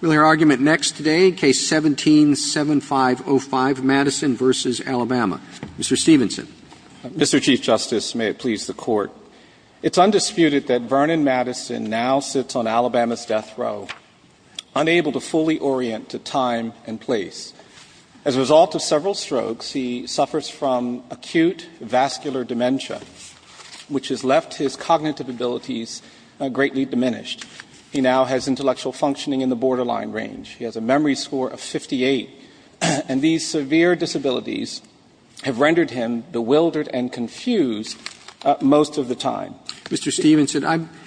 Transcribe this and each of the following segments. We'll hear argument next today, Case 17-7505, Madison v. Alabama. Mr. Stevenson. Mr. Chief Justice, may it please the Court, it's undisputed that Vernon Madison now sits on Alabama's death row, unable to fully orient to time and place. As a result of several strokes, he suffers from acute vascular dementia, which has left his cognitive abilities greatly diminished. He now has intellectual functioning in the borderline range. He has a memory score of 58. And these severe disabilities have rendered him bewildered and confused most of the time. Mr. Stevenson, I'm –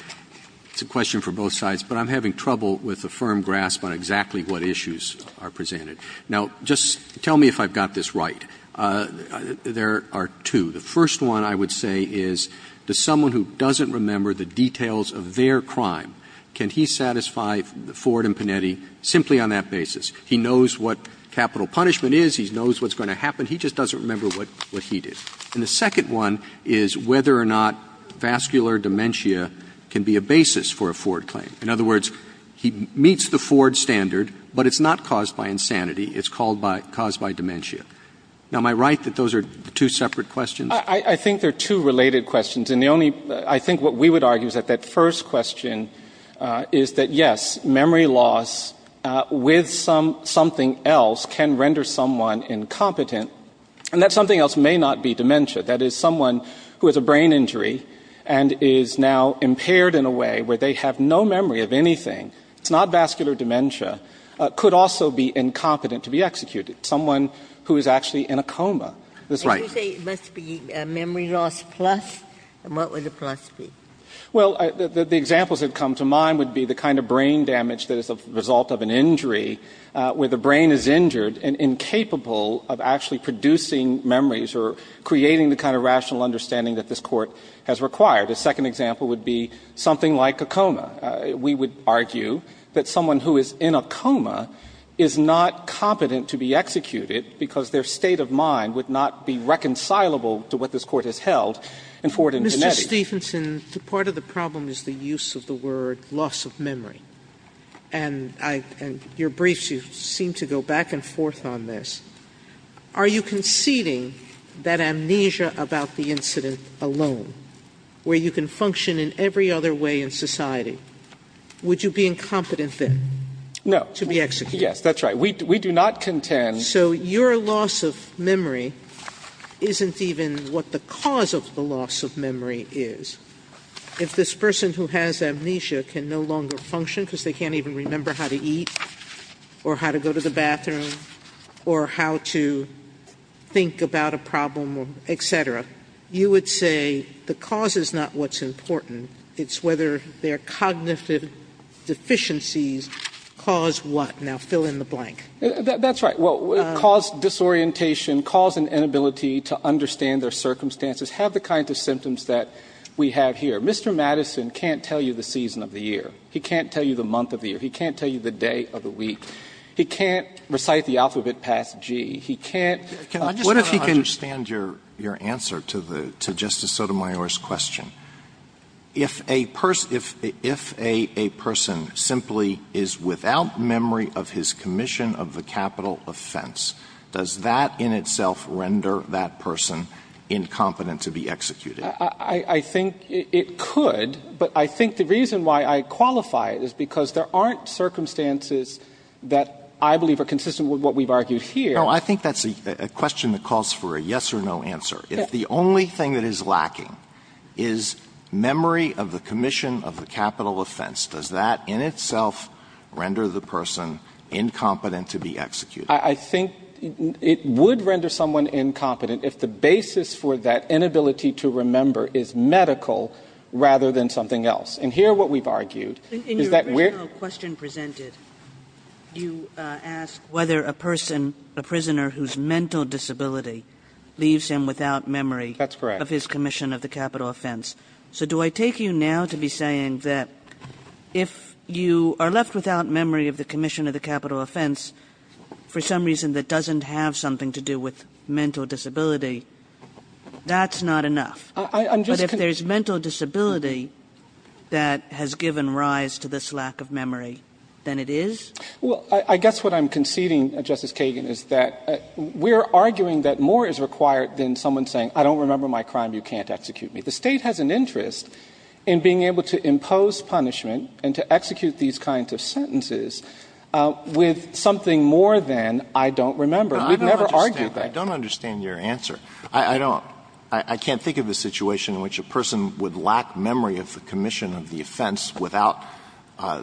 it's a question for both sides, but I'm having trouble with a firm grasp on exactly what issues are presented. Now, just tell me if I've got this right. There are two. The first one, I would say, is does someone who doesn't remember the details of their crime, can he satisfy Ford and Panetti simply on that basis? He knows what capital punishment is. He knows what's going to happen. He just doesn't remember what he did. And the second one is whether or not vascular dementia can be a basis for a Ford claim. In other words, he meets the Ford standard, but it's not caused by insanity. It's caused by dementia. Now, am I right that those are two separate questions? I think they're two related questions. And the only – I think what we would argue is that that first question is that, yes, memory loss with something else can render someone incompetent. And that something else may not be dementia. That is, someone who has a brain injury and is now impaired in a way where they have no memory of anything – it's not vascular dementia – could also be incompetent to be executed. Someone who is actually in a coma. That's right. And you say it must be memory loss plus? And what would the plus be? Well, the examples that come to mind would be the kind of brain damage that is the result of an injury where the brain is injured and incapable of actually producing memories or creating the kind of rational understanding that this Court has required. A second example would be something like a coma. We would argue that someone who is in a coma is not competent to be executed because their state of mind would not be reconcilable to what this Court has held in Ford and Gennetti. Mr. Stephenson, part of the problem is the use of the word loss of memory. And I – and your briefs, you seem to go back and forth on this. Are you conceding that amnesia about the incident alone, where you can function in every other way in society, would you be incompetent then? No. To be executed. Yes, that's right. We do not contend. So your loss of memory isn't even what the cause of the loss of memory is. If this person who has amnesia can no longer function because they can't even remember how to eat or how to go to the bathroom or how to think about a problem, et cetera, you would say the cause is not what's important. It's whether their cognitive deficiencies cause what. Now fill in the blank. That's right. Well, cause disorientation, cause an inability to understand their circumstances have the kinds of symptoms that we have here. Mr. Madison can't tell you the season of the year. He can't tell you the month of the year. He can't tell you the day of the week. He can't recite the alphabet past G. He can't – I understand your answer to Justice Sotomayor's question. If a person simply is without memory of his commission of the capital offense, does that in itself render that person incompetent to be executed? I think it could, but I think the reason why I qualify it is because there aren't circumstances that I believe are consistent with what we've argued here. No, I think that's a question that calls for a yes or no answer. If the only thing that is lacking is memory of the commission of the capital offense, does that in itself render the person incompetent to be executed? I think it would render someone incompetent if the basis for that inability to remember is medical rather than something else. And here what we've argued is that we're – But if a person – a prisoner whose mental disability leaves him without memory of his commission of the capital offense. That's correct. So do I take you now to be saying that if you are left without memory of the commission of the capital offense for some reason that doesn't have something to do with mental disability, that's not enough? I'm just – But if there's mental disability that has given rise to this lack of memory, then it is? Well, I guess what I'm conceding, Justice Kagan, is that we're arguing that more is required than someone saying I don't remember my crime, you can't execute me. The State has an interest in being able to impose punishment and to execute these kinds of sentences with something more than I don't remember. We've never argued that. I don't understand your answer. I don't. I can't think of a situation in which a person would lack memory of the commission of the offense without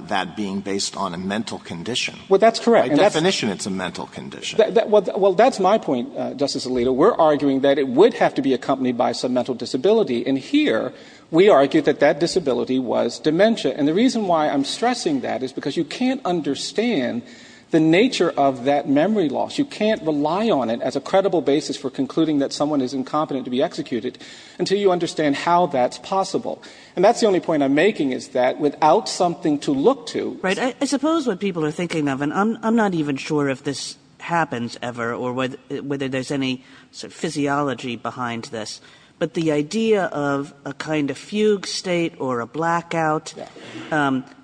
that being based on a mental condition. Well, that's correct. By definition, it's a mental condition. Well, that's my point, Justice Alito. We're arguing that it would have to be accompanied by some mental disability. And here we argue that that disability was dementia. And the reason why I'm stressing that is because you can't understand the nature of that memory loss. You can't rely on it as a credible basis for concluding that someone is incompetent to be executed until you understand how that's possible. And that's the only point I'm making is that without something to look to. Right. I suppose what people are thinking of, and I'm not even sure if this happens ever or whether there's any physiology behind this, but the idea of a kind of fugue state or a blackout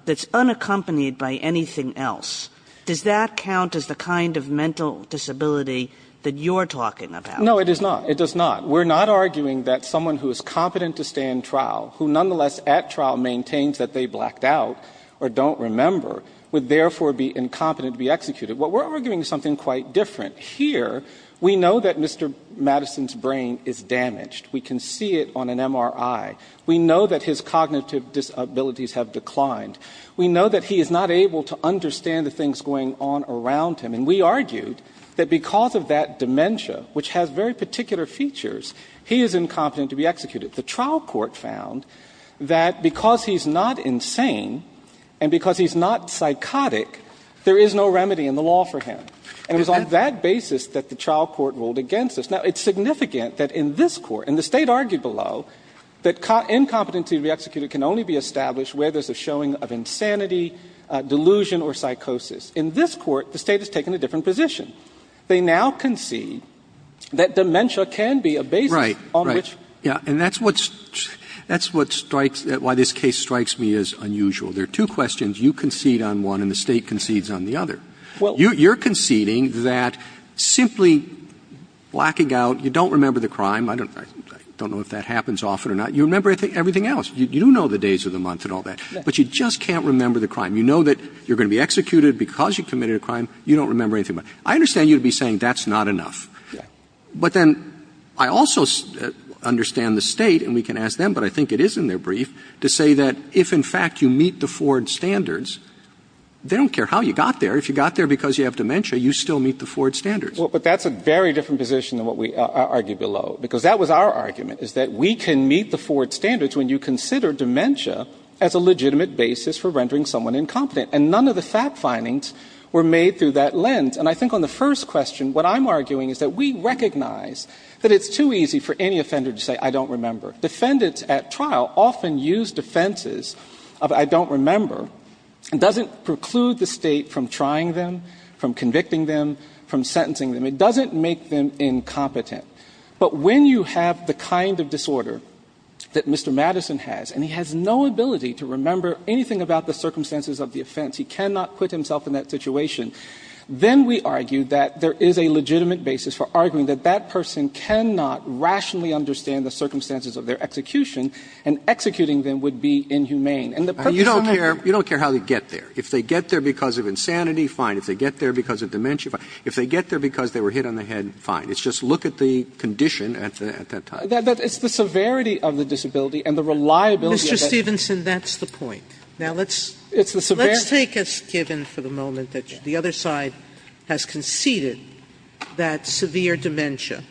that's unaccompanied by anything else, does that count as the kind of mental disability that you're talking about? No, it is not. It does not. We're not arguing that someone who is competent to stand trial, who nonetheless at trial maintains that they blacked out or don't remember, would therefore be incompetent to be executed. What we're arguing is something quite different. Here, we know that Mr. Madison's brain is damaged. We can see it on an MRI. We know that his cognitive disabilities have declined. We know that he is not able to understand the things going on around him. And we argued that because of that dementia, which has very particular features, he is incompetent to be executed. The trial court found that because he's not insane and because he's not psychotic, there is no remedy in the law for him. And it was on that basis that the trial court ruled against us. Now, it's significant that in this court, and the State argued below, that incompetency to be executed can only be established where there's a showing of insanity, delusion or psychosis. In this court, the State has taken a different position. They now concede that dementia can be a basis on which. Roberts. Right. Right. Yeah. And that's what strikes why this case strikes me as unusual. There are two questions. You concede on one and the State concedes on the other. You're conceding that simply blacking out, you don't remember the crime. I don't know if that happens often or not. You remember everything else. You do know the days of the month and all that. But you just can't remember the crime. You know that you're going to be executed because you committed a crime. You don't remember anything. I understand you'd be saying that's not enough. Yeah. But then I also understand the State, and we can ask them, but I think it is in their brief, to say that if, in fact, you meet the Ford standards, they don't care how you got there. If you got there because you have dementia, you still meet the Ford standards. Well, but that's a very different position than what we argued below, because that was our argument, is that we can meet the Ford standards when you consider dementia as a legitimate basis for rendering someone incompetent. And none of the fact findings were made through that lens. And I think on the first question, what I'm arguing is that we recognize that it's too easy for any offender to say, I don't remember. Defendants at trial often use defenses of I don't remember. It doesn't preclude the State from trying them, from convicting them, from sentencing them. It doesn't make them incompetent. But when you have the kind of disorder that Mr. Madison has, and he has no ability to remember anything about the circumstances of the offense, he cannot put himself in that situation, then we argue that there is a legitimate basis for arguing that that person cannot rationally understand the circumstances of their execution, and executing them would be inhumane. And the purpose of that is to make sure that they get there. Roberts You don't care how they get there. If they get there because of insanity, fine. If they get there because of dementia, fine. If they get there because they were hit on the head, fine. It's just look at the condition at that time. Stevenson It's the severity of the disability and the reliability of it. Sotomayor Mr. Stevenson, that's the point. Now, let's take as given for the moment that the other side has conceded that severe dementia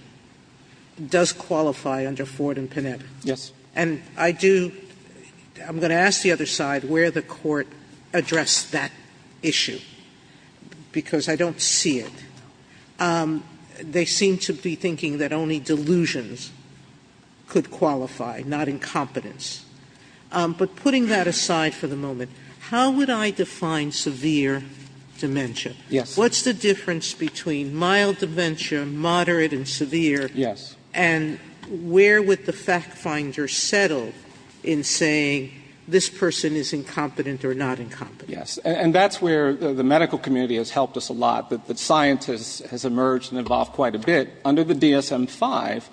does qualify under Ford and Panetta. Stevenson Yes. Sotomayor And I do – I'm going to ask the other side where the Court addressed that issue, because I don't see it. They seem to be thinking that only delusions could qualify, not incompetence. But putting that aside for the moment, how would I define severe dementia? Stevenson Yes. Sotomayor What's the difference between mild dementia, moderate and severe? Stevenson Yes. Sotomayor or not incompetent? Stevenson Yes. And that's where the medical community has helped us a lot. The scientists has emerged and evolved quite a bit. Under the DSM-5,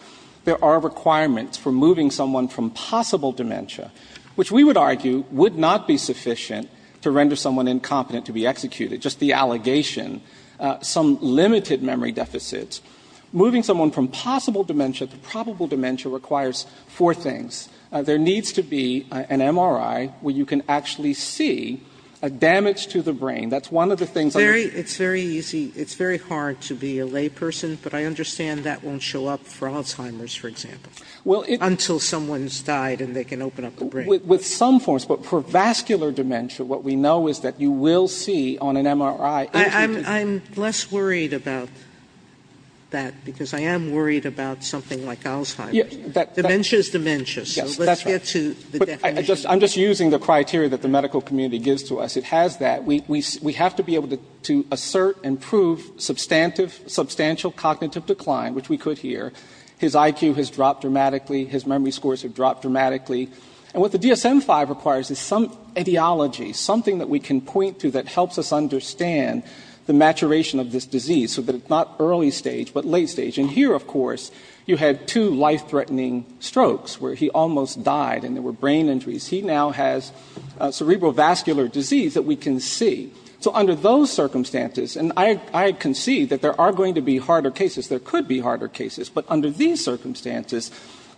there are requirements for moving someone from possible dementia, which we would argue would not be sufficient to render someone incompetent to be executed, just the allegation, some limited memory deficits. Moving someone from possible dementia to probable dementia requires four things. There needs to be an MRI where you can actually see a damage to the brain. That's one of the things I would say. Sotomayor It's very easy. It's very hard to be a layperson, but I understand that won't show up for Alzheimer's, for example, until someone's died and they can open up the brain. Stevenson With some forms. But for vascular dementia, what we know is that you will see on an MRI. Sotomayor I'm less worried about that, because I am worried about something like Alzheimer's. Sotomayor Dementia is dementia, so let's get to the definition. Stevenson I'm just using the criteria that the medical community gives to us. It has that. We have to be able to assert and prove substantive, substantial cognitive decline, which we could here. His IQ has dropped dramatically. His memory scores have dropped dramatically. And what the DSM-5 requires is some ideology, something that we can point to that helps us understand the maturation of this disease so that it's not early stage but late stage. And here, of course, you had two life-threatening strokes where he almost died and there were brain injuries. He now has cerebral vascular disease that we can see. So under those circumstances, and I concede that there are going to be harder cases. There could be harder cases. But under these circumstances,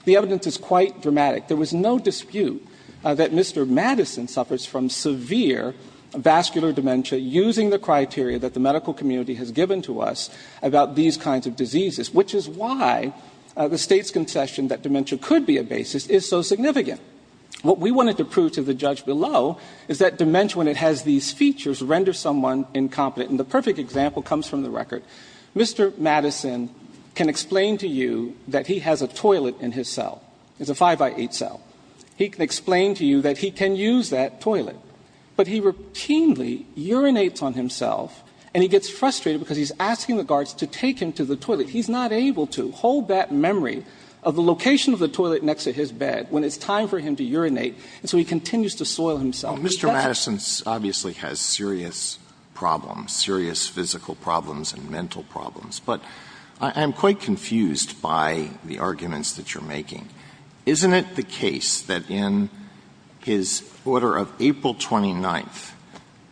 the evidence is quite dramatic. There was no dispute that Mr. Madison suffers from severe vascular dementia using the criteria that the medical community has given to us about these kinds of diseases, which is why the State's concession that dementia could be a basis is so significant. What we wanted to prove to the judge below is that dementia, when it has these features, renders someone incompetent. And the perfect example comes from the record. Mr. Madison can explain to you that he has a toilet in his cell. It's a 5-by-8 cell. He can explain to you that he can use that toilet. But he routinely urinates on himself and he gets frustrated because he's asking the guards to take him to the toilet. He's not able to hold that memory of the location of the toilet next to his bed when it's time for him to urinate. And so he continues to soil himself. He doesn't. Alito, Mr. Madison obviously has serious problems, serious physical problems and mental problems. But I'm quite confused by the arguments that you're making. Isn't it the case that in his order of April 29th,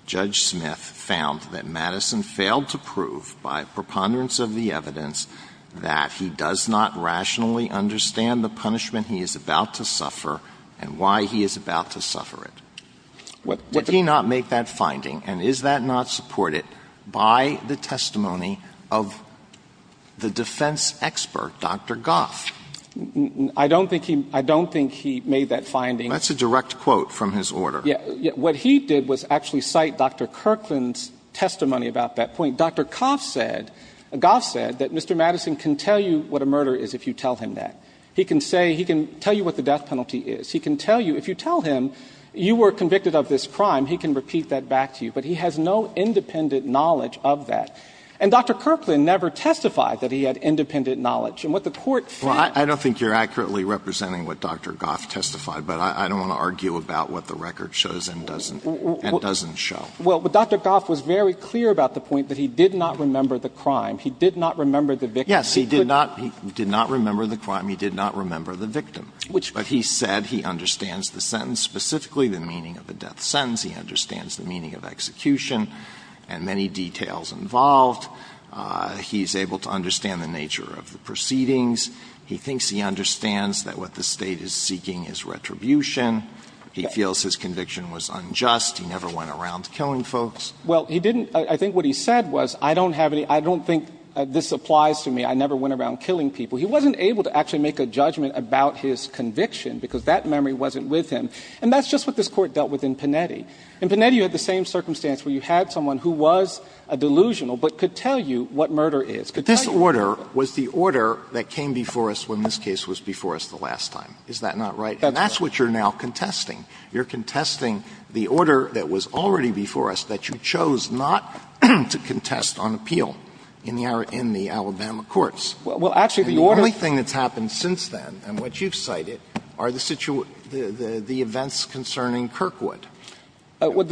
Judge Smith found that Madison failed to prove by preponderance of the evidence that he does not rationally understand the punishment he is about to suffer and why he is about to suffer it? Did he not make that finding? And is that not supported by the testimony of the defense expert, Dr. Goff? I don't think he made that finding. That's a direct quote from his order. Yes. What he did was actually cite Dr. Kirkland's testimony about that point. Dr. Goff said that Mr. Madison can tell you what a murder is if you tell him that. He can say he can tell you what the death penalty is. He can tell you if you tell him you were convicted of this crime, he can repeat that back to you. But he has no independent knowledge of that. And Dr. Kirkland never testified that he had independent knowledge. And what the Court found was that he did not. Well, I don't think you're accurately representing what Dr. Goff testified, but I don't want to argue about what the record shows and doesn't show. Well, Dr. Goff was very clear about the point that he did not remember the crime. He did not remember the victim. Yes. He did not remember the crime. He did not remember the victim. But he said he understands the sentence specifically, the meaning of a death sentence. He understands the meaning of execution and many details involved. He is able to understand the nature of the proceedings. He thinks he understands that what the State is seeking is retribution. He feels his conviction was unjust. He never went around killing folks. Well, he didn't. I think what he said was, I don't have any – I don't think this applies to me. I never went around killing people. He wasn't able to actually make a judgment about his conviction, because that memory wasn't with him. And that's just what this Court dealt with in Panetti. In Panetti, you had the same circumstance where you had someone who was a delusional but could tell you what murder is. But this order was the order that came before us when this case was before us the last time. Is that not right? That's right. And that's what you're now contesting. You're contesting the order that was already before us that you chose not to contest on appeal in the Alabama courts. Well, actually, the order – And the only thing that's happened since then, and what you've cited, are the events concerning Kirkwood. Is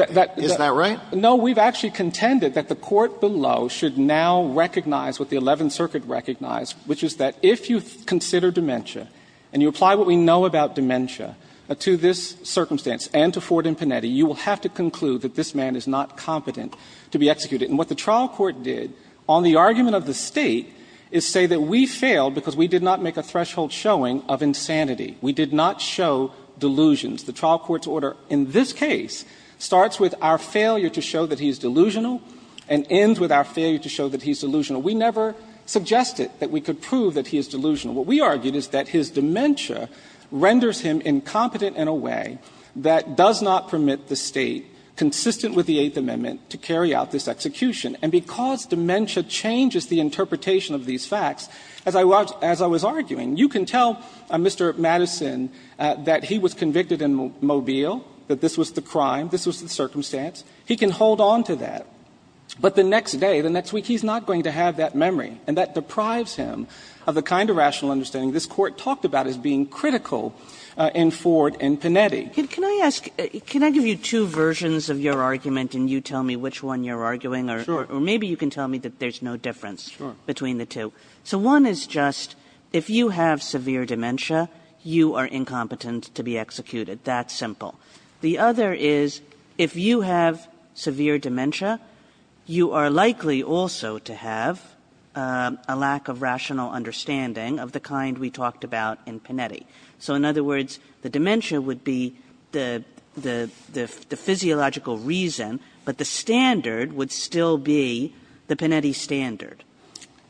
that right? No, we've actually contended that the Court below should now recognize what the Eleventh Circuit recognized, which is that if you consider dementia and you apply what we know about dementia to this circumstance and to Ford and Panetti, you will have to conclude that this man is not competent to be executed. And what the trial court did on the argument of the State is say that we failed because we did not make a threshold showing of insanity. We did not show delusions. The trial court's order in this case starts with our failure to show that he's delusional and ends with our failure to show that he's delusional. We never suggested that we could prove that he is delusional. What we argued is that his dementia renders him incompetent in a way that does not permit the State, consistent with the Eighth Amendment, to carry out this execution. And because dementia changes the interpretation of these facts, as I was arguing, you can tell Mr. Madison that he was convicted in Mobile, that this was the crime, this was the circumstance. He can hold on to that. But the next day, the next week, he's not going to have that memory. And that deprives him of the kind of rational understanding this Court talked about as being critical in Ford and Panetti. you are incompetent to be executed. That simple. The other is, if you have severe dementia, you are likely also to have a lack of rational understanding of the kind we talked about in Panetti. So in other words, the dementia would be the physiological reason, but the standard would still be the Panetti standard.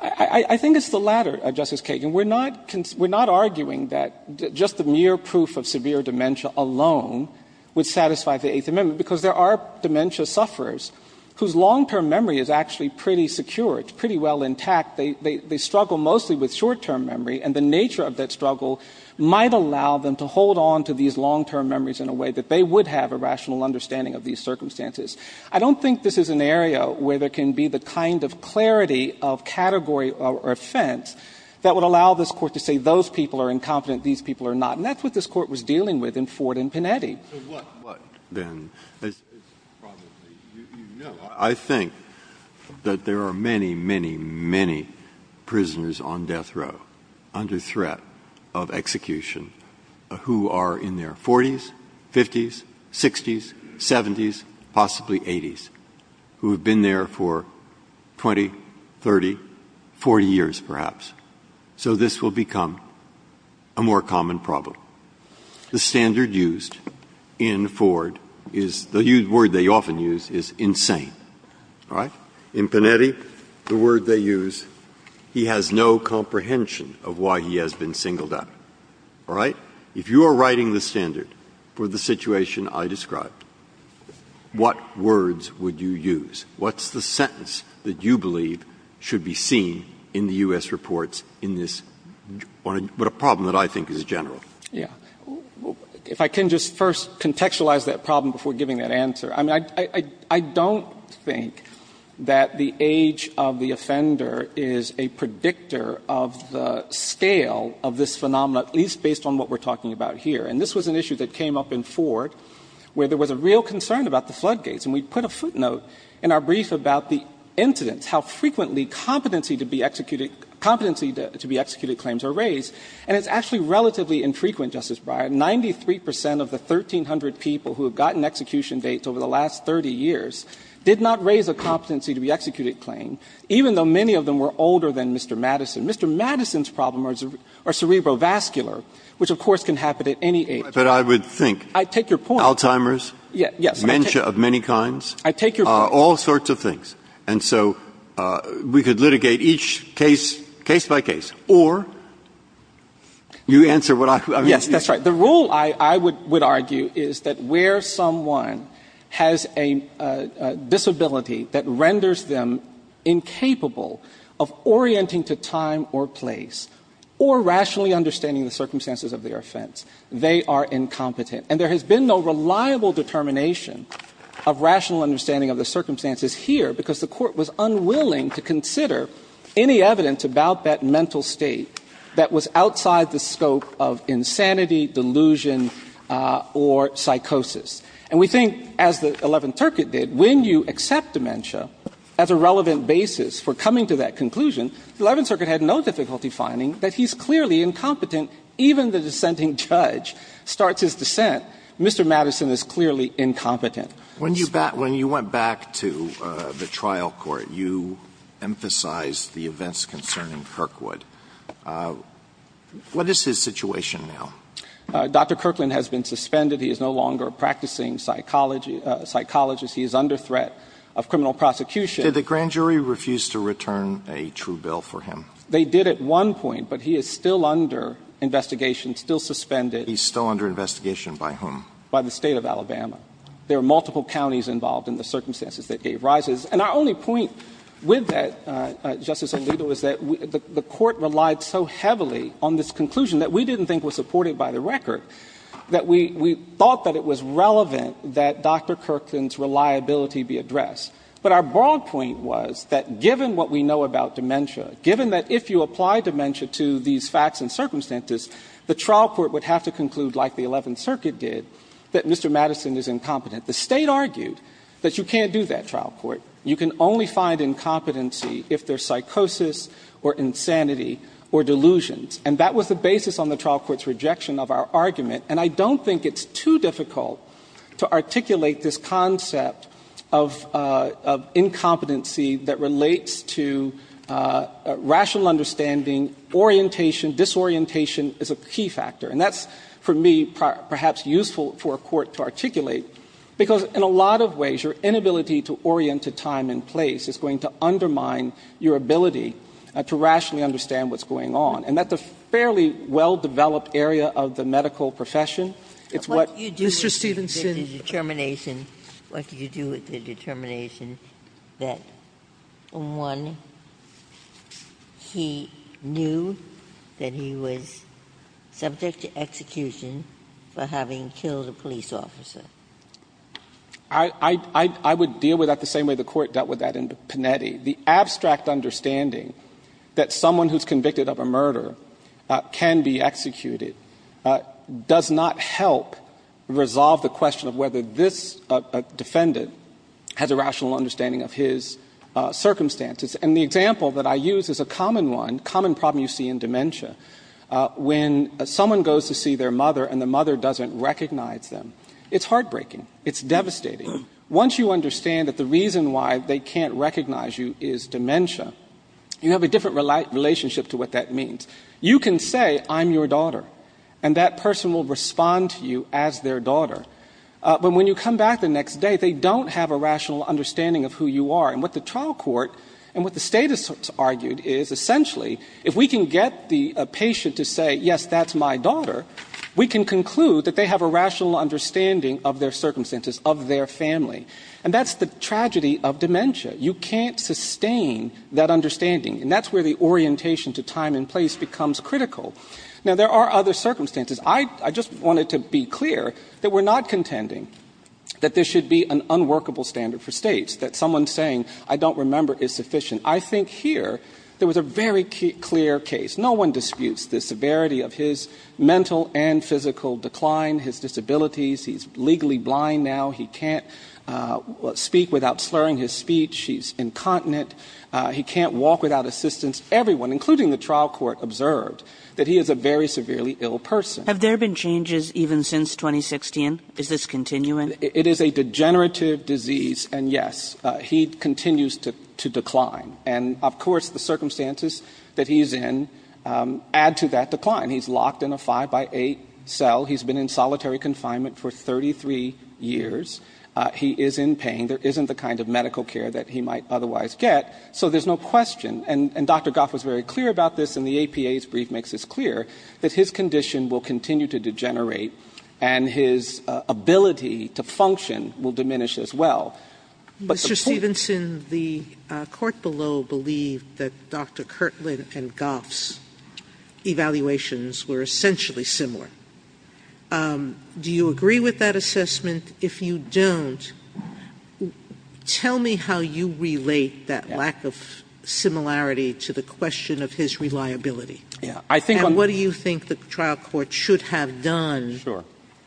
I think it's the latter, Justice Kagan. We're not arguing that just the mere proof of severe dementia alone would satisfy the Eighth Amendment, because there are dementia sufferers whose long-term memory is actually pretty secure. It's pretty well intact. They struggle mostly with short-term memory, and the nature of that struggle might allow them to hold on to these long-term memories in a way that they would have a rational understanding of these circumstances. I don't think this is an area where there can be the kind of clarity of category or offense that would allow this Court to say those people are incompetent, these people are not. And that's what this Court was dealing with in Ford and Panetti. Breyer. So what, then, is probably you know. I think that there are many, many, many prisoners on death row under threat of execution who are in their 40s, 50s, 60s, 70s, possibly 80s, who have been there for 20, 30, 40 years, perhaps. So this will become a more common problem. The standard used in Ford is the word they often use is insane. All right? In Panetti, the word they use, he has no comprehension of why he has been singled out, all right? If you are writing the standard for the situation I described, what words would you use? What's the sentence that you believe should be seen in the U.S. reports in this problem that I think is general? Yeah. If I can just first contextualize that problem before giving that answer. I mean, I don't think that the age of the offender is a predictor of the scale of this phenomenon, at least based on what we are talking about here. And this was an issue that came up in Ford where there was a real concern about the floodgates. And we put a footnote in our brief about the incidents, how frequently competency to be executed claims are raised. And it's actually relatively infrequent, Justice Breyer. 93 percent of the 1,300 people who have gotten execution dates over the last 30 years did not raise a competency to be executed claim, even though many of them were older than Mr. Madison. Mr. Madison's problem are cerebrovascular, which, of course, can happen at any age. But I would think Alzheimer's, dementia of many kinds, all sorts of things. And so we could litigate each case, case by case. Or you answer what I mean. Yes, that's right. The rule, I would argue, is that where someone has a disability that renders them incapable of orienting to time or place or rationally understanding the circumstances of their offense, they are incompetent. And there has been no reliable determination of rational understanding of the circumstances here because the Court was unwilling to consider any evidence about that mental state that was outside the scope of insanity, delusion, or psychosis. And we think, as the Eleventh Circuit did, when you accept dementia as a relevant basis for coming to that conclusion, the Eleventh Circuit had no difficulty finding that he's clearly incompetent, even the dissenting judge starts his dissent. Mr. Madison is clearly incompetent. Alito When you went back to the trial court, you emphasized the events concerning Kirkwood. What is his situation now? Dr. Kirkland has been suspended. He is no longer a practicing psychologist. He is under threat of criminal prosecution. Did the grand jury refuse to return a true bill for him? They did at one point, but he is still under investigation, still suspended. He's still under investigation by whom? By the State of Alabama. There are multiple counties involved in the circumstances that he arises. And our only point with that, Justice Alito, is that the Court relied so heavily on this conclusion that we didn't think was supported by the record, that we thought that it was relevant that Dr. Kirkland's reliability be addressed. But our broad point was that given what we know about dementia, given that if you apply dementia to these facts and circumstances, the trial court would have to conclude, like the Eleventh Circuit did, that Mr. Madison is incompetent. The State argued that you can't do that, trial court. You can only find incompetency if there's psychosis or insanity or delusions. And that was the basis on the trial court's rejection of our argument. And I don't think it's too difficult to articulate this concept of incompetency that relates to rational understanding, orientation, disorientation is a key factor. And that's, for me, perhaps useful for a court to articulate, because in a lot of ways your inability to orient to time and place is going to undermine your ability to rationally understand what's going on. And that's a fairly well-developed area of the medical profession. It's what Mr. Stevenson ---- Ginsburg. Ginsburg. What do you do with the determination that, one, he knew that he was subject to execution for having killed a police officer? I would deal with that the same way the Court dealt with that in Panetti. The abstract understanding that someone who's convicted of a murder can be executed does not help resolve the question of whether this defendant has a rational understanding of his circumstances. And the example that I use is a common one, common problem you see in dementia. When someone goes to see their mother and the mother doesn't recognize them, it's heartbreaking. It's devastating. Once you understand that the reason why they can't recognize you is dementia, you have a different relationship to what that means. You can say, I'm your daughter, and that person will respond to you as their daughter. But when you come back the next day, they don't have a rational understanding of who you are. And what the trial court and what the State has argued is, essentially, if we can get the patient to say, yes, that's my daughter, we can conclude that they have a rational understanding of their circumstances, of their family. And that's the tragedy of dementia. You can't sustain that understanding. And that's where the orientation to time and place becomes critical. Now, there are other circumstances. I just wanted to be clear that we're not contending that there should be an unworkable standard for States, that someone saying, I don't remember, is sufficient. I think here there was a very clear case. No one disputes the severity of his mental and physical decline, his disabilities. He's legally blind now. He can't speak without slurring his speech. He's incontinent. He can't walk without assistance. Everyone, including the trial court, observed that he is a very severely ill person. Have there been changes even since 2016? Is this continuing? It is a degenerative disease, and yes, he continues to decline. And, of course, the circumstances that he's in add to that decline. He's locked in a 5-by-8 cell. He's been in solitary confinement for 33 years. He is in pain. There isn't the kind of medical care that he might otherwise get. So there's no question, and Dr. Goff was very clear about this in the APA's brief makes this clear, that his condition will continue to degenerate, and his ability to function will diminish as well. Mr. Stevenson, the court below believed that Dr. Kirtland and Goff's evaluations were essentially similar. Do you agree with that assessment? If you don't, tell me how you relate that lack of similarity to the question of his reliability. And what do you think the trial court should have done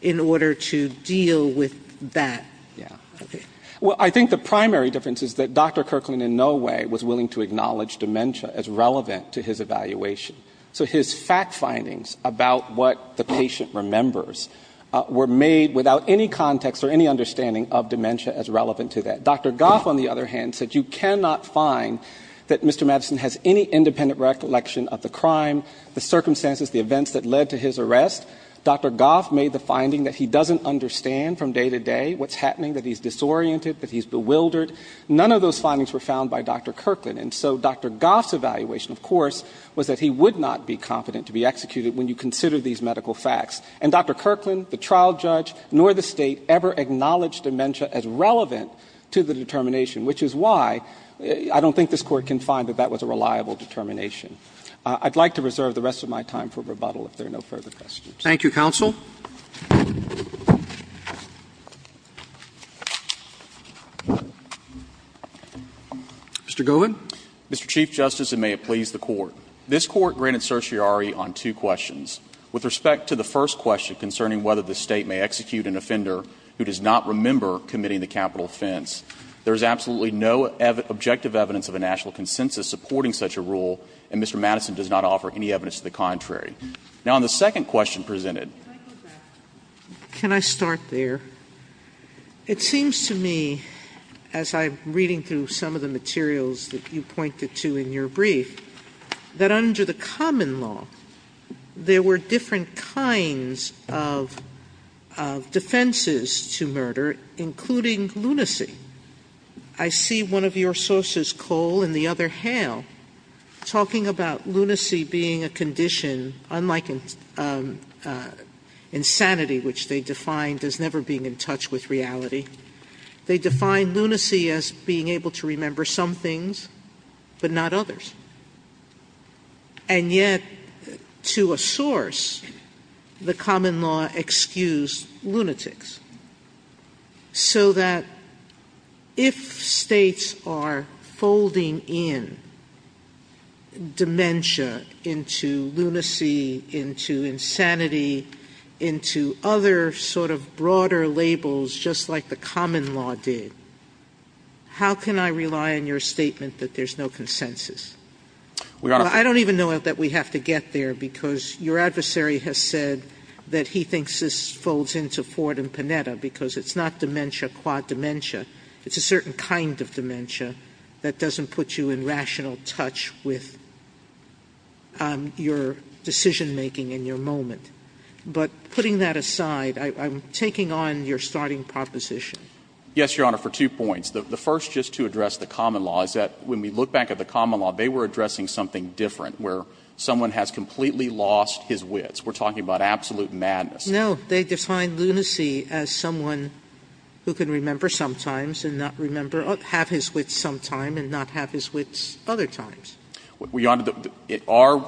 in order to deal with that? Well, I think the primary difference is that Dr. Kirtland in no way was willing to acknowledge dementia as relevant to his evaluation. So his fact findings about what the patient remembers were made without any context or any understanding of dementia as relevant to that. Dr. Goff, on the other hand, said you cannot find that Mr. Madison has any independent recollection of the crime, the circumstances, the events that led to his arrest. Dr. Goff made the finding that he doesn't understand from day to day what's happening, that he's disoriented, that he's bewildered. None of those findings were found by Dr. Kirtland. And so Dr. Goff's evaluation, of course, was that he would not be competent to be executed when you consider these medical facts. And Dr. Kirtland, the trial judge, nor the State ever acknowledged dementia as relevant to the determination, which is why I don't think this Court can find that that was a reliable determination. I'd like to reserve the rest of my time for rebuttal if there are no further questions. Roberts. Thank you, counsel. Mr. Govan. Mr. Chief Justice, and may it please the Court. This Court granted certiorari on two questions. With respect to the first question concerning whether the State may execute an offender who does not remember committing the capital offense, there is absolutely no objective evidence of a national consensus supporting such a rule, and Mr. Madison does not offer any evidence to the contrary. Now, on the second question presented. Sotomayor. Can I start there? It seems to me, as I'm reading through some of the materials that you pointed to in your brief, that under the common law, there were different kinds of defenses to murder, including lunacy. I see one of your sources, Cole, in the other hale, talking about lunacy being a condition unlike insanity, which they defined as never being in touch with reality. They define lunacy as being able to remember some things but not others. And yet, to a source, the common law excused lunatics. So that if States are folding in dementia into lunacy, into insanity, into other sort of broader labels, just like the common law did, how can I rely on your statement that there's no consensus? I don't even know that we have to get there, because your adversary has said that he thinks this folds into Ford and Panetta, because it's not dementia qua dementia. It's a certain kind of dementia that doesn't put you in rational touch with your decision-making in your moment. But putting that aside, I'm taking on your starting proposition. Yes, Your Honor, for two points. The first, just to address the common law, is that when we look back at the common law, they were addressing something different, where someone has completely lost his wits. We're talking about absolute madness. No. They defined lunacy as someone who can remember sometimes and not remember or have his wits sometime and not have his wits other times. Your Honor,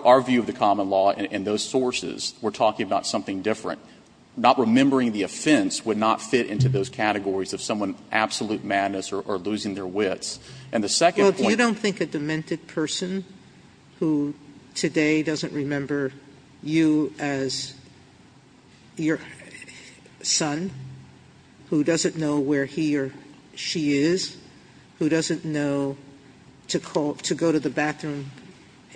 our view of the common law and those sources, we're talking about something different. Not remembering the offense would not fit into those categories of someone absolute madness or losing their wits. And the second point is the same. Sotomayor, you don't think a demented person who today doesn't remember you as your son, who doesn't know where he or she is, who doesn't know to go to the bathroom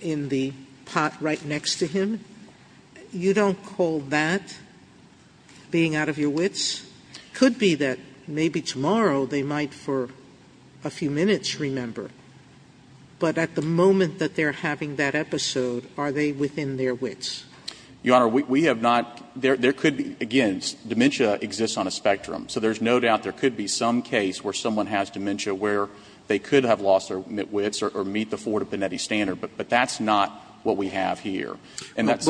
in the pot right next to him, you don't call that being out of your wits? It could be that maybe tomorrow they might for a few minutes remember. But at the moment that they're having that episode, are they within their wits? Your Honor, we have not – there could be – again, dementia exists on a spectrum. So there's no doubt there could be some case where someone has dementia where they could have lost their wits or meet the Forta Benetti standard. But that's not what we have here. Roberts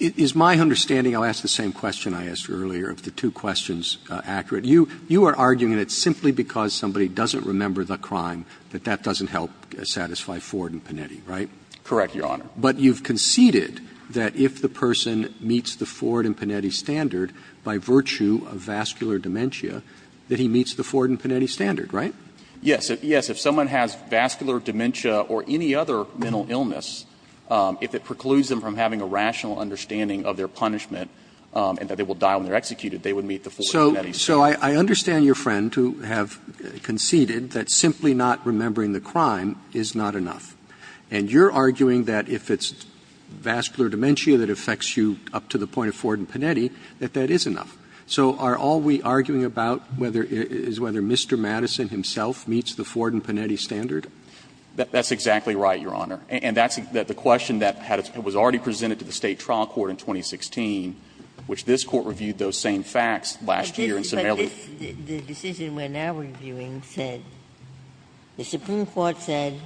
It's my understanding – I'll ask the same question I asked you earlier, if the two questions are accurate. You are arguing that it's simply because somebody doesn't remember the crime that that doesn't help satisfy Ford and Benetti, right? Correct, Your Honor. But you've conceded that if the person meets the Ford and Benetti standard, by virtue of vascular dementia, that he meets the Ford and Benetti standard, right? Yes. Yes, if someone has vascular dementia or any other mental illness, if it precludes them from having a rational understanding of their punishment and that they will die when they're executed, they would meet the Ford and Benetti standard. So I understand your friend to have conceded that simply not remembering the crime is not enough. And you're arguing that if it's vascular dementia that affects you up to the point of Ford and Benetti, that that is enough. So are all we arguing about whether – is whether Mr. Madison himself meets the Ford and Benetti standard? That's exactly right, Your Honor. And that's the question that was already presented to the State trial court in 2016, which this Court reviewed those same facts last year in Somalia. But the decision we're now reviewing said, the Supreme Court said,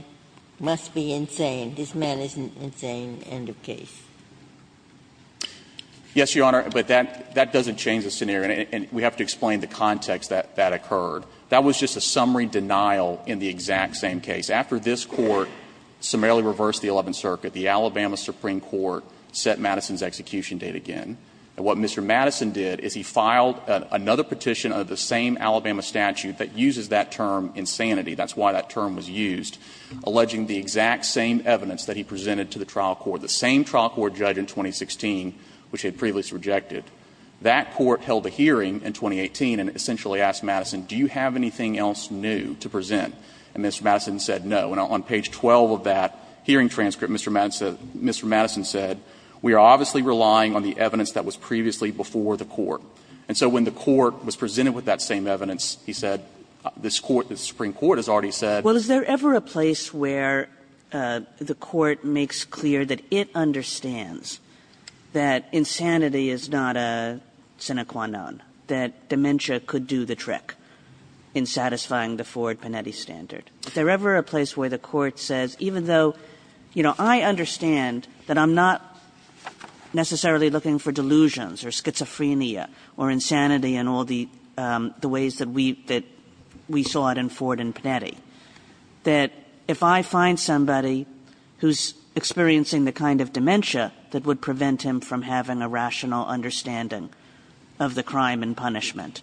must be insane, this man is an insane end of case. Yes, Your Honor, but that doesn't change the scenario, and we have to explain the context that that occurred. That was just a summary denial in the exact same case. After this Court summarily reversed the Eleventh Circuit, the Alabama Supreme Court set Madison's execution date again. And what Mr. Madison did is he filed another petition under the same Alabama statute that uses that term, insanity. That's why that term was used, alleging the exact same evidence that he presented to the trial court. The same trial court judge in 2016, which had previously rejected, that court held a hearing in 2018 and essentially asked Madison, do you have anything else new to present? And Mr. Madison said no. And on page 12 of that hearing transcript, Mr. Madison said, we are obviously relying on the evidence that was previously before the court. And so when the court was presented with that same evidence, he said, this Court, this Supreme Court has already said – It understands that insanity is not a sine qua non, that dementia could do the trick in satisfying the Ford-Panetti standard. Is there ever a place where the Court says, even though, you know, I understand that I'm not necessarily looking for delusions or schizophrenia or insanity in all the ways that we – that we saw it in Ford and Panetti, that if I find somebody who's experiencing the kind of dementia that would prevent him from having a rational understanding of the crime and punishment,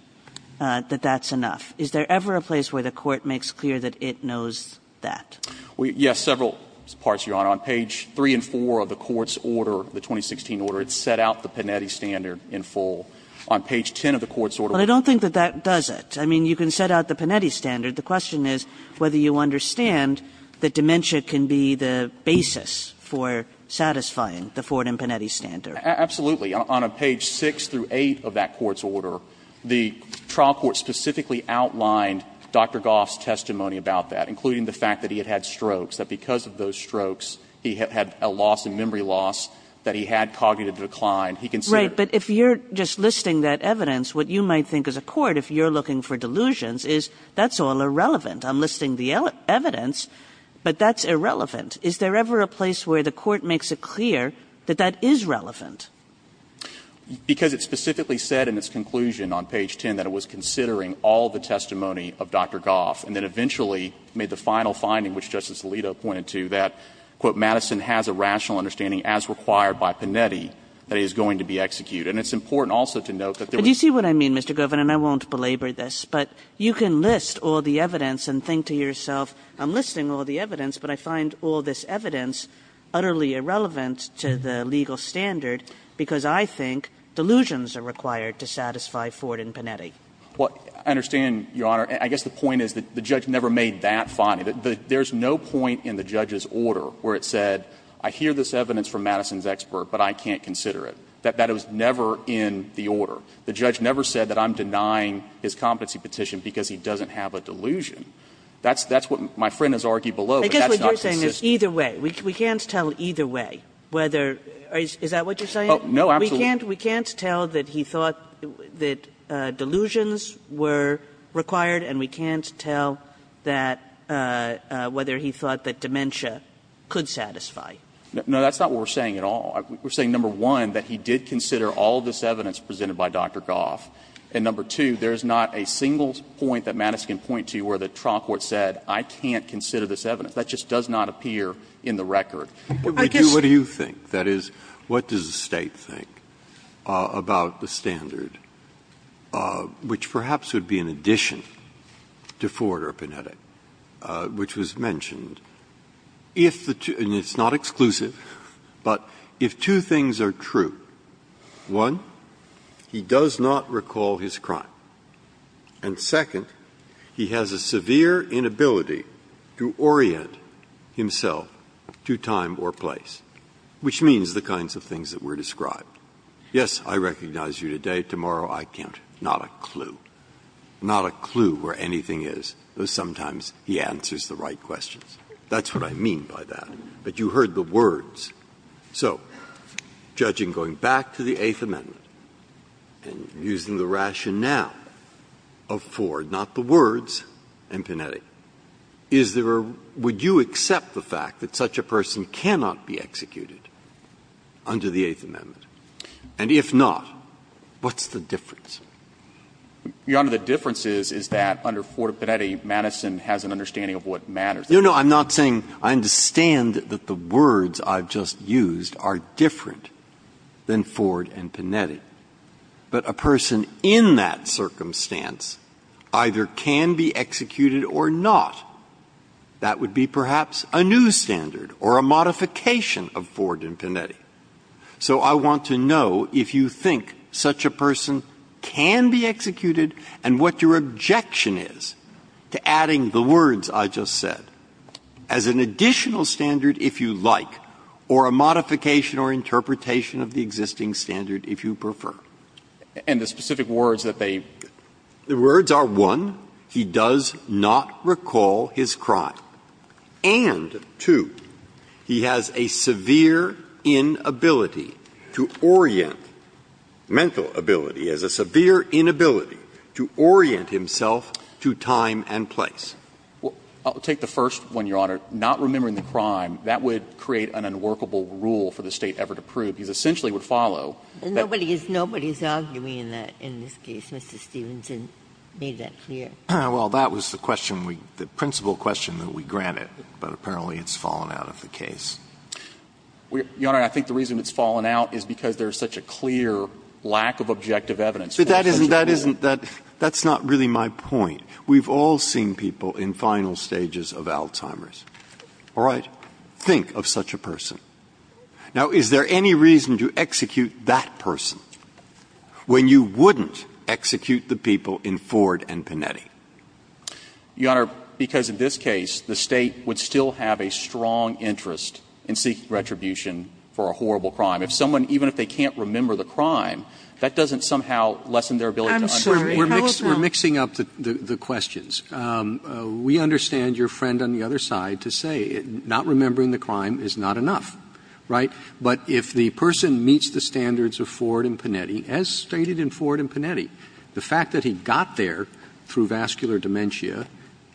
that that's enough? Is there ever a place where the Court makes clear that it knows that? Yes, several parts, Your Honor. On page 3 and 4 of the court's order, the 2016 order, it set out the Panetti standard in full. On page 10 of the court's order – But I don't think that that does it. I mean, you can set out the Panetti standard. The question is whether you understand that dementia can be the basis for satisfying the Ford and Panetti standard. Absolutely. On page 6 through 8 of that court's order, the trial court specifically outlined Dr. Goff's testimony about that, including the fact that he had had strokes, that because of those strokes, he had a loss in memory loss, that he had cognitive decline. He considered – Right. But if you're just listing that evidence, what you might think as a court, if you're all irrelevant, I'm listing the evidence, but that's irrelevant. Is there ever a place where the Court makes it clear that that is relevant? Because it specifically said in its conclusion on page 10 that it was considering all the testimony of Dr. Goff, and then eventually made the final finding, which Justice Alito pointed to, that, quote, Madison has a rational understanding as required by Panetti that he is going to be executed. And it's important also to note that there was – But do you see what I mean, Mr. Goff? And I won't belabor this, but you can list all the evidence and think to yourself, I'm listing all the evidence, but I find all this evidence utterly irrelevant to the legal standard because I think delusions are required to satisfy Ford and Panetti. Well, I understand, Your Honor. I guess the point is that the judge never made that finding. There's no point in the judge's order where it said, I hear this evidence from Madison's expert, but I can't consider it, that that was never in the order. The judge never said that I'm denying his competency petition because he doesn't have a delusion. That's what my friend has argued below, but that's not consistent. Kagan I guess what you're saying is either way. We can't tell either way whether – is that what you're saying? No, absolutely. Kagan We can't tell that he thought that delusions were required, and we can't tell that – whether he thought that dementia could satisfy. No, that's not what we're saying at all. We're saying, number one, that he did consider all of this evidence presented by Dr. Goff, and number two, there's not a single point that Madison can point to where the trial court said, I can't consider this evidence. That just does not appear in the record. I guess Breyer What do you think? That is, what does the State think about the standard, which perhaps would be an addition to Ford or Panetti, which was mentioned, if the two – and it's not exclusive, but if two things are true, one, he does not recall his crime, and second, he has a severe inability to orient himself to time or place, which means the kinds of things that were described. Yes, I recognize you today, tomorrow I can't, not a clue, not a clue where anything is, though sometimes he answers the right questions. That's what I mean by that. But you heard the words. So judging going back to the Eighth Amendment and using the rationale of Ford, not the words, and Panetti, is there a – would you accept the fact that such a person cannot be executed under the Eighth Amendment? And if not, what's the difference? Your Honor, the difference is, is that under Ford or Panetti, Madison has an understanding of what matters. No, no, I'm not saying – I understand that the words I've just used are different than Ford and Panetti. But a person in that circumstance either can be executed or not, that would be perhaps a new standard or a modification of Ford and Panetti. So I want to know if you think such a person can be executed, and what your objection is to adding the words I just said as an additional standard, if you like, or a modification or interpretation of the existing standard, if you prefer. And the specific words that they – The words are, one, he does not recall his crime, and, two, he has a severe inability to orient himself to time and place. Well, I'll take the first one, Your Honor. Not remembering the crime, that would create an unworkable rule for the State ever to prove. It essentially would follow that – Nobody is arguing that in this case, Mr. Stephenson. Make that clear. Well, that was the question we – the principal question that we granted, but apparently it's fallen out of the case. Your Honor, I think the reason it's fallen out is because there's such a clear lack of objective evidence. But that isn't – that isn't – that's not really my point. We've all seen people in final stages of Alzheimer's, all right? Think of such a person. Now, is there any reason to execute that person when you wouldn't execute the people in Ford and Panetti? Your Honor, because in this case, the State would still have a strong interest in seeking retribution for a horrible crime. If someone – even if they can't remember the crime, that doesn't somehow lessen their ability to understand. I'm sorry. How about – We're mixing up the questions. We understand your friend on the other side to say not remembering the crime is not enough, right? But if the person meets the standards of Ford and Panetti, as stated in Ford and Panetti, that's near what's vascular dementia,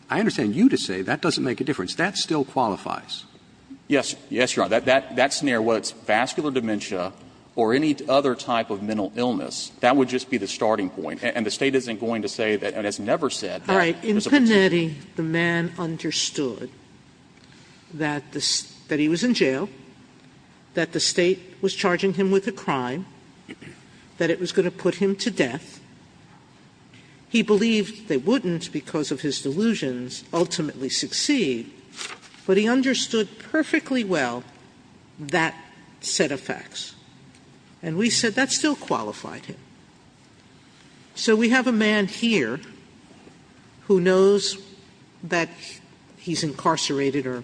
I understand you to say that doesn't make a difference. That still qualifies. Yes. Yes, Your Honor. That's near what's vascular dementia or any other type of mental illness. That would just be the starting point. And the State isn't going to say that – and has never said that there's a possibility. All right. In Panetti, the man understood that the – that he was in jail, that the State was because of his delusions, ultimately succeed. But he understood perfectly well that set of facts. And we said that still qualified him. So we have a man here who knows that he's incarcerated or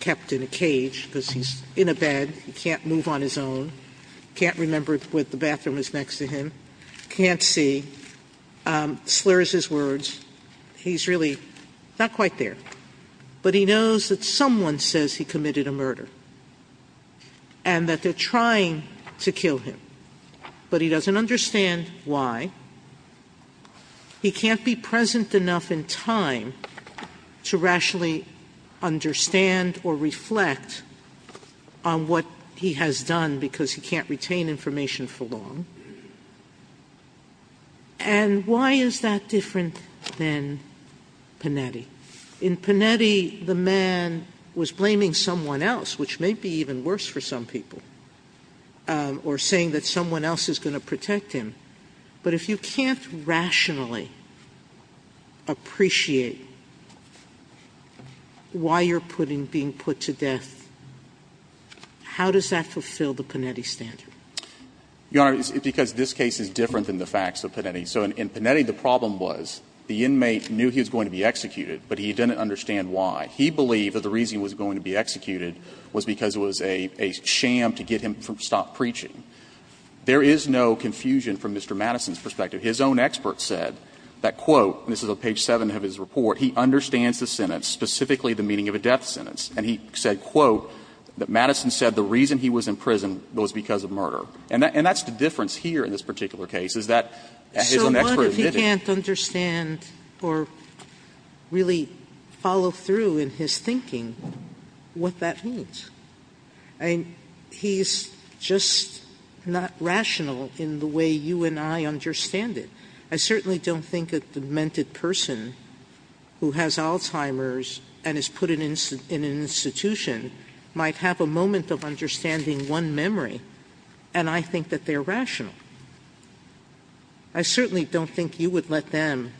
kept in a cage because he's in a bed, he can't move on his own, can't remember what the bathroom is next to him, can't see, slurs his words. He's really not quite there. But he knows that someone says he committed a murder and that they're trying to kill him. But he doesn't understand why. He can't be present enough in time to rationally understand or reflect on what he has done because he can't retain information for long. And why is that different than Panetti? In Panetti, the man was blaming someone else, which may be even worse for some people, or saying that someone else is going to protect him. But if you can't rationally appreciate why you're being put to death, how does that fulfill the Panetti standard? Your Honor, because this case is different than the facts of Panetti. So in Panetti, the problem was the inmate knew he was going to be executed, but he didn't understand why. He believed that the reason he was going to be executed was because it was a sham to get him to stop preaching. There is no confusion from Mr. Madison's perspective. His own expert said that, quote, and this is on page 7 of his report, he understands the sentence, specifically the meaning of a death sentence. And he said, quote, that Madison said the reason he was in prison was because of murder. And that's the difference here in this particular case, is that his own expert admitted it. Sotomayor, he can't understand or really follow through in his thinking what that means. I mean, he's just not rational in the way you and I understand it. I certainly don't think a demented person who has Alzheimer's and is put in an institution might have a moment of understanding one memory, and I think that they're rational. I certainly don't think you would let them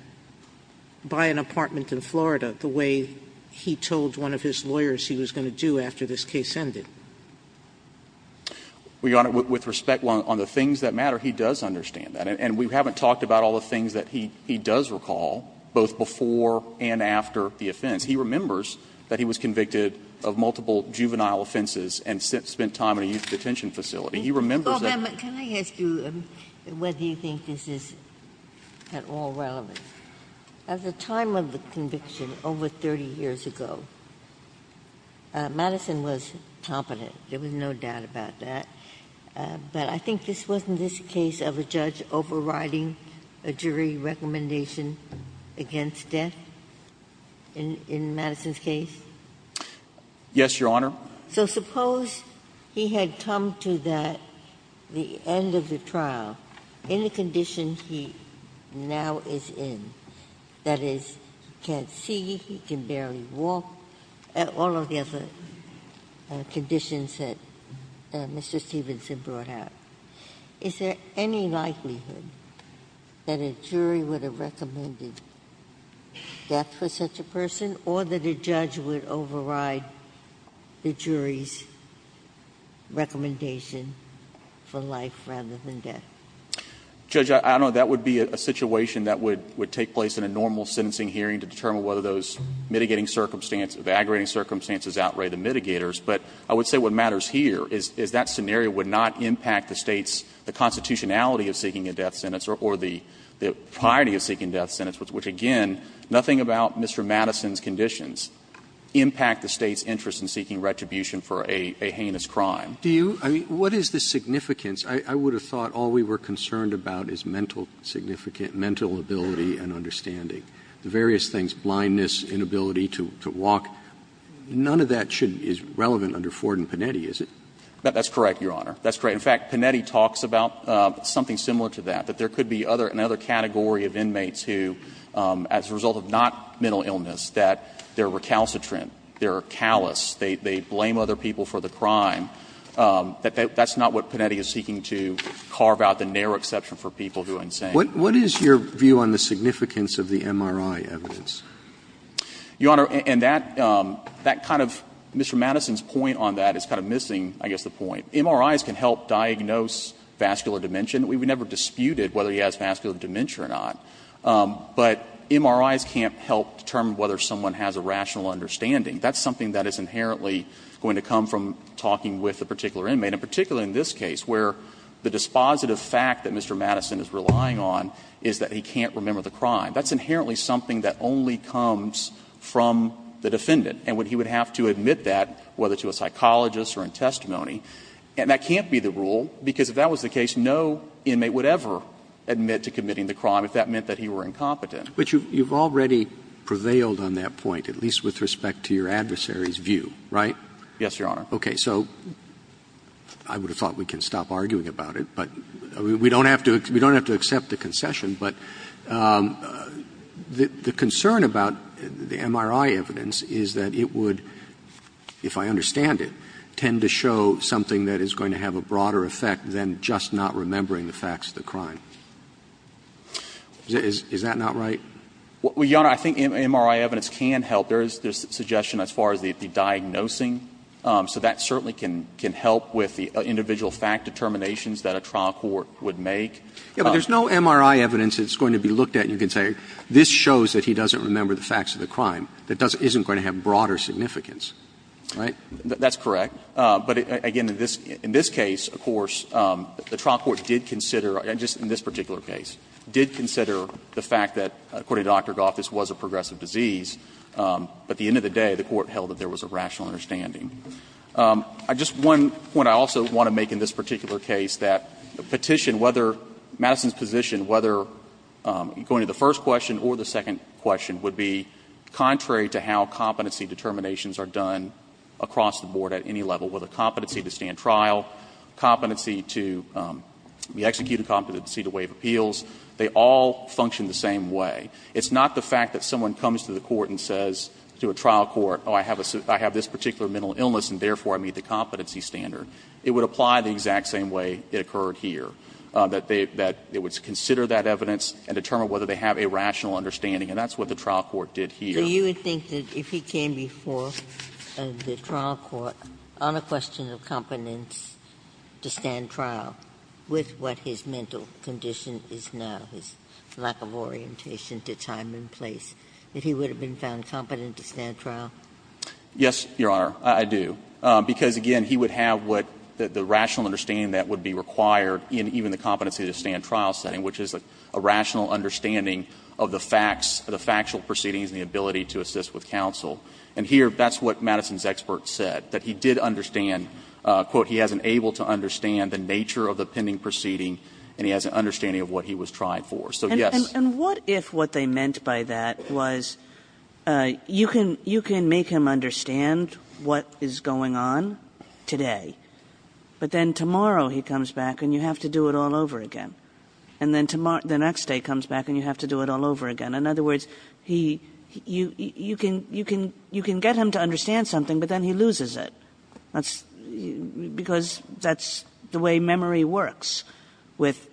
buy an apartment in Florida the way he told one of his lawyers he was going to do after this case ended. Your Honor, with respect on the things that matter, he does understand that. And we haven't talked about all the things that he does recall, both before and after the offense. He remembers that he was convicted of multiple juvenile offenses and spent time in a youth detention facility. He remembers that. Ginsburg. Can I ask you whether you think this is at all relevant? At the time of the conviction, over 30 years ago, Madison was competent. There was no doubt about that. But I think this wasn't this case of a judge overriding a jury recommendation against death in Madison's case? Yes, Your Honor. So suppose he had come to that, the end of the trial, in the condition he now is in, that is, he can't see, he can barely walk, all of the other conditions that Mr. Stevenson brought out. Is there any likelihood that a jury would have recommended death for such a person or that a judge would override the jury's recommendation for life rather than death? Judge, I don't know. That would be a situation that would take place in a normal sentencing hearing to determine whether those mitigating circumstances, evagorating circumstances outweigh the mitigators. But I would say what matters here is that scenario would not impact the State's constitutionality of seeking a death sentence or the priority of seeking death sentence, which, again, nothing about Mr. Madison's conditions, impact the State's interest in seeking retribution for a heinous crime. Do you – I mean, what is the significance? I would have thought all we were concerned about is mental significance, mental ability and understanding, the various things, blindness, inability to walk. None of that should – is relevant under Ford and Panetti, is it? That's correct, Your Honor. That's correct. In fact, Panetti talks about something similar to that, that there could be other – another category of inmates who, as a result of not mental illness, that they are recalcitrant, they are callous, they blame other people for the crime, that that's not what Panetti is seeking to carve out the narrow exception for people who are insane. What is your view on the significance of the MRI evidence? Your Honor, and that – that kind of – Mr. Madison's point on that is kind of missing, I guess, the point. MRIs can help diagnose vascular dementia. We never disputed whether he has vascular dementia or not. But MRIs can't help determine whether someone has a rational understanding. That's something that is inherently going to come from talking with a particular inmate, and particularly in this case, where the dispositive fact that Mr. Madison is relying on is that he can't remember the crime. That's inherently something that only comes from the defendant. And when he would have to admit that, whether to a psychologist or in testimony, and that can't be the rule, because if that was the case, no inmate would ever admit to committing the crime if that meant that he were incompetent. But you've already prevailed on that point, at least with respect to your adversary's view, right? Yes, Your Honor. Okay. So I would have thought we can stop arguing about it, but we don't have to – we don't The concern about the MRI evidence is that it would, if I understand it, tend to show something that is going to have a broader effect than just not remembering the facts of the crime. Is that not right? Well, Your Honor, I think MRI evidence can help. There is this suggestion as far as the diagnosing. So that certainly can help with the individual fact determinations that a trial court would make. Yeah, but there's no MRI evidence that's going to be looked at and you can say, this shows that he doesn't remember the facts of the crime. That doesn't – isn't going to have broader significance, right? That's correct. But again, in this case, of course, the trial court did consider, and just in this particular case, did consider the fact that, according to Dr. Goff, this was a progressive disease. But at the end of the day, the court held that there was a rational understanding. I just – one point I also want to make in this particular case, that the petition, whether – Madison's position, whether going to the first question or the second question, would be contrary to how competency determinations are done across the board at any level, whether competency to stand trial, competency to – the executed competency to waive appeals, they all function the same way. It's not the fact that someone comes to the court and says to a trial court, oh, I have this particular mental illness and therefore I meet the competency standard. It would apply the exact same way it occurred here. That they would consider that evidence and determine whether they have a rational understanding. And that's what the trial court did here. Ginsburg. So you would think that if he came before the trial court on a question of competence to stand trial with what his mental condition is now, his lack of orientation to time and place, that he would have been found competent to stand trial? Yes, Your Honor, I do, because, again, he would have what the rational understanding that would be required in even the competency to stand trial setting, which is a rational understanding of the facts, the factual proceedings and the ability to assist with counsel. And here, that's what Madison's expert said, that he did understand, quote, he hasn't able to understand the nature of the pending proceeding and he hasn't understanding of what he was tried for. So, yes. And what if what they meant by that was you can make him understand what is going on today, but then tomorrow he comes back and you have to do it all over again. And then the next day comes back and you have to do it all over again. In other words, you can get him to understand something, but then he loses it. That's because that's the way memory works with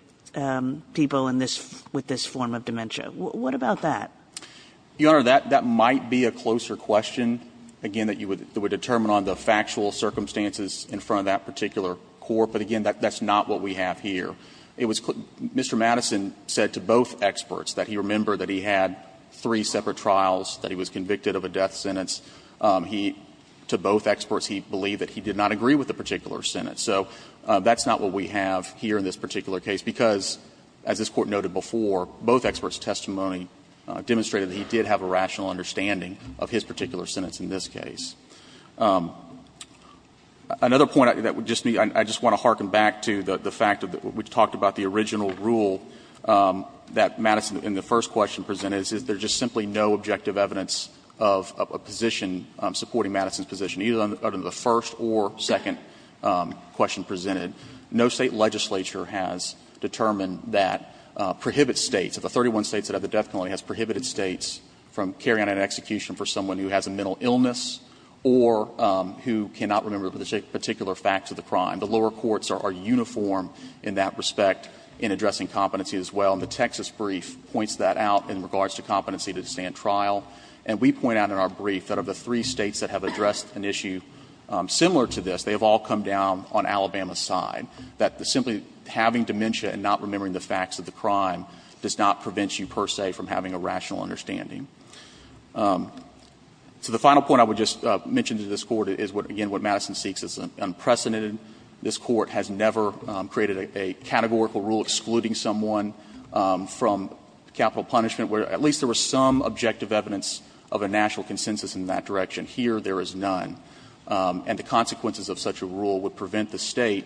people in this form of dementia. What about that? Your Honor, that might be a closer question, again, that you would determine based on the factual circumstances in front of that particular court, but, again, that's not what we have here. Mr. Madison said to both experts that he remembered that he had three separate trials, that he was convicted of a death sentence. He, to both experts, he believed that he did not agree with the particular sentence. So that's not what we have here in this particular case, because, as this Court noted before, both experts' testimony demonstrated that he did have a rational understanding of his particular sentence in this case. Another point that would just need to be, I just want to harken back to the fact that we talked about the original rule that Madison, in the first question, presented, is there's just simply no objective evidence of a position supporting Madison's position, either under the first or second question presented. No State legislature has determined that prohibits States, of the 31 States that have the death penalty, has prohibited States from carrying out an execution for someone who has a mental illness or who cannot remember the particular facts of the crime. The lower courts are uniform in that respect in addressing competency as well. And the Texas brief points that out in regards to competency to stand trial. And we point out in our brief that of the three States that have addressed an issue similar to this, they have all come down on Alabama's side, that simply having dementia and not remembering the facts of the crime does not prevent you, per se, from having a rational understanding. So the final point I would just mention to this Court is what, again, what Madison seeks is unprecedented. This Court has never created a categorical rule excluding someone from capital punishment, where at least there was some objective evidence of a national consensus in that direction. Here, there is none. And the consequences of such a rule would prevent the State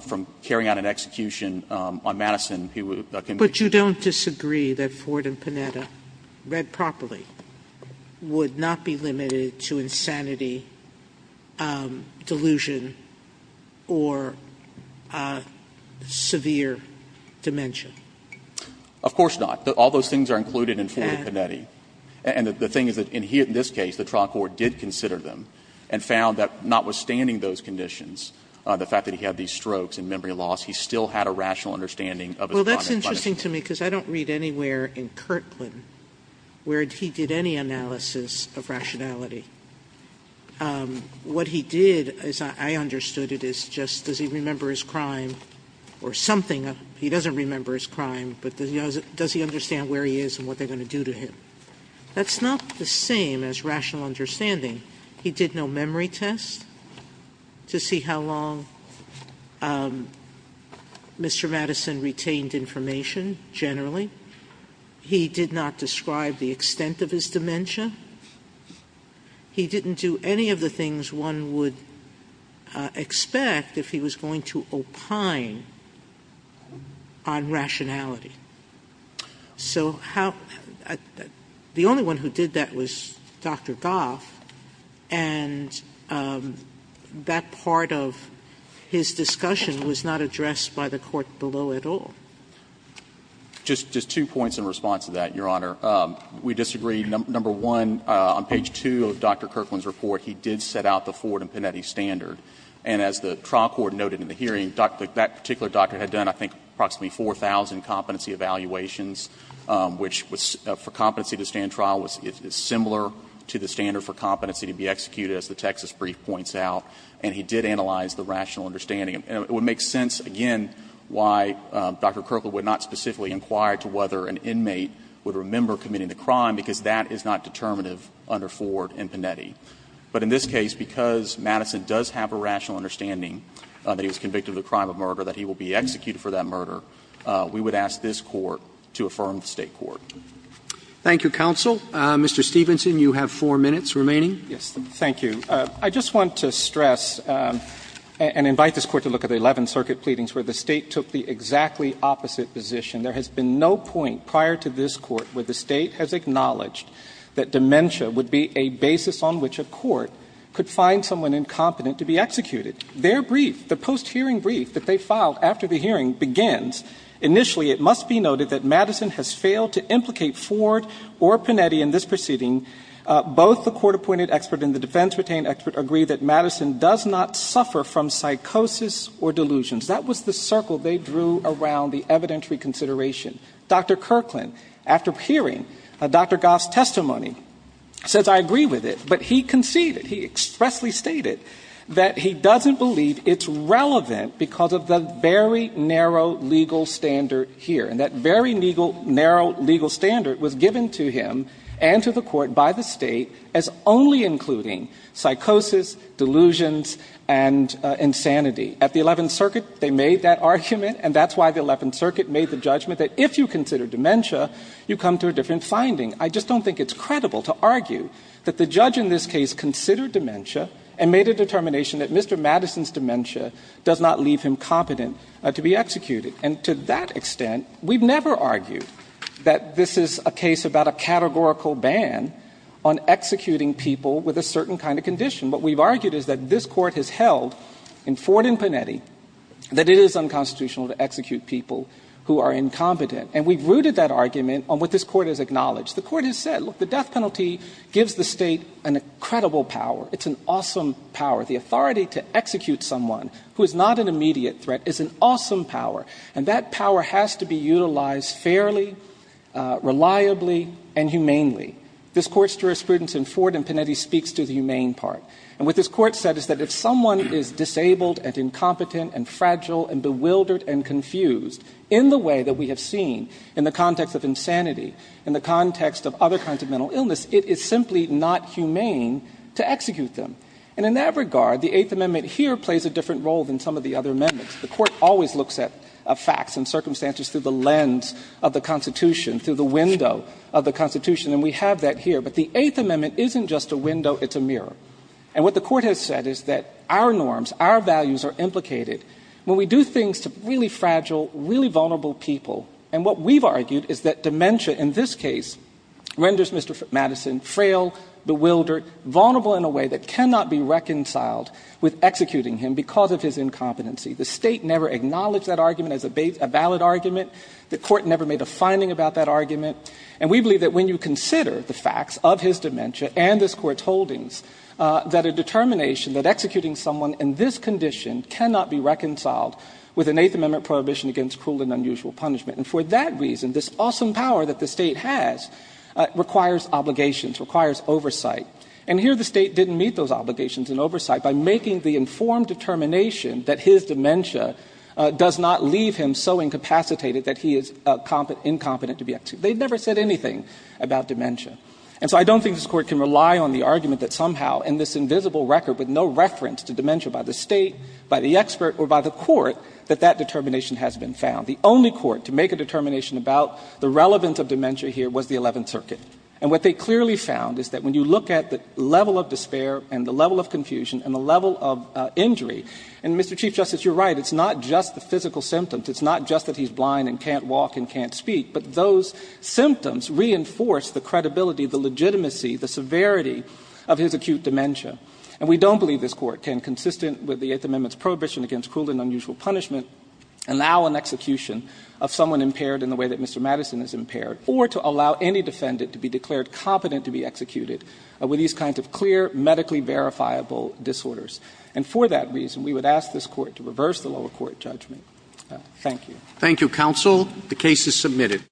from carrying out an execution on Madison who can be convicted. Sotomayor, but you don't disagree that Ford and Panetta, read properly, would not be limited to insanity, delusion, or severe dementia? Of course not. All those things are included in Ford and Panetta. And the thing is that in this case, the trial court did consider them and found that notwithstanding those conditions, the fact that he had these strokes and memory loss, he still had a rational understanding of his crime. Sotomayor, that's interesting to me, because I don't read anywhere in Kirtland where he did any analysis of rationality. What he did, as I understood it, is just does he remember his crime or something he doesn't remember his crime, but does he understand where he is and what they're going to do to him? That's not the same as rational understanding. He did no memory test to see how long Mr. Madison retained information. Generally, he did not describe the extent of his dementia. He didn't do any of the things one would expect if he was going to opine on rationality. So the only one who did that was Dr. Goff, and that part of his discussion was not addressed by the court below at all. Just two points in response to that, Your Honor. We disagree, number one, on page 2 of Dr. Kirtland's report, he did set out the Ford and Panetti standard, and as the trial court noted in the hearing, that particular doctor had done, I think, approximately 4,000 competency evaluations, which was for competency to stand trial was similar to the standard for competency to be executed as the Texas brief points out, and he did analyze the rational understanding. It would make sense, again, why Dr. Kirkland would not specifically inquire to whether an inmate would remember committing the crime, because that is not determinative under Ford and Panetti. But in this case, because Madison does have a rational understanding that he was convicted of the crime of murder, that he will be executed for that murder, we would ask this Court to affirm the State court. Roberts. Thank you, counsel. Mr. Stevenson, you have four minutes remaining. Yes, thank you. I just want to stress and invite this Court to look at the Eleventh Circuit pleadings where the State took the exactly opposite position. There has been no point prior to this Court where the State has acknowledged that dementia would be a basis on which a court could find someone incompetent to be executed. Their brief, the post-hearing brief that they filed after the hearing begins. Initially, it must be noted that Madison has failed to implicate Ford or Panetti in this proceeding. Both the court-appointed expert and the defense-retained expert agree that Madison does not suffer from psychosis or delusions. That was the circle they drew around the evidentiary consideration. Dr. Kirkland, after hearing Dr. Goff's testimony, says, I agree with it. But he conceded, he expressly stated, that he doesn't believe it's relevant because of the very narrow legal standard here. And that very legal, narrow legal standard was given to him and to the court by the State as only including psychosis, delusions, and insanity. At the Eleventh Circuit, they made that argument. And that's why the Eleventh Circuit made the judgment that if you consider dementia, you come to a different finding. I just don't think it's credible to argue that the judge in this case considered dementia and made a determination that Mr. Madison's dementia does not leave him competent to be executed. And to that extent, we've never argued that this is a case about a categorical ban on executing people with a certain kind of condition. What we've argued is that this Court has held in Ford and Panetti that it is unconstitutional to execute people who are incompetent. And we've rooted that argument on what this Court has acknowledged. The Court has said, look, the death penalty gives the State an incredible power. It's an awesome power. The authority to execute someone who is not an immediate threat is an awesome power. And that power has to be utilized fairly, reliably, and humanely. This Court's jurisprudence in Ford and Panetti speaks to the humane part. And what this Court said is that if someone is disabled and incompetent and fragile and bewildered and confused in the way that we have seen in the context of insanity, in the context of other kinds of mental illness, it is simply not humane to execute them. And in that regard, the Eighth Amendment here plays a different role than some of the other amendments. The Court always looks at facts and circumstances through the lens of the Constitution, through the window of the Constitution. And we have that here. But the Eighth Amendment isn't just a window. It's a mirror. And what the Court has said is that our norms, our values are implicated. When we do things to really fragile, really vulnerable people, and what we've argued is that dementia in this case renders Mr. Madison frail, bewildered, vulnerable in a way that cannot be reconciled with executing him because of his incompetency. The State never acknowledged that argument as a valid argument. The Court never made a finding about that argument. And we believe that when you consider the facts of his dementia and this Court's holdings, that a determination that executing someone in this condition cannot be reconciled with an Eighth Amendment prohibition against cruel and unusual punishment. And for that reason, this awesome power that the State has requires obligations, requires oversight. And here the State didn't meet those obligations and oversight by making the informed determination that his dementia does not leave him so incapacitated that he is incompetent to be executed. They never said anything about dementia. And so I don't think this Court can rely on the argument that somehow in this invisible record with no reference to dementia by the State, by the expert, or by the Court, that that determination has been found. The only Court to make a determination about the relevance of dementia here was the Eleventh Circuit. And what they clearly found is that when you look at the level of despair and the And, Mr. Chief Justice, you're right. It's not just the physical symptoms. It's not just that he's blind and can't walk and can't speak, but those symptoms reinforce the credibility, the legitimacy, the severity of his acute dementia. And we don't believe this Court can, consistent with the Eighth Amendment's prohibition against cruel and unusual punishment, allow an execution of someone impaired in the way that Mr. Madison is impaired, or to allow any defendant to be declared competent to be executed with these kinds of clear, medically verifiable disorders. And for that reason, we would ask this Court to reverse the lower court judgment. Thank you. Thank you, counsel. The case is submitted.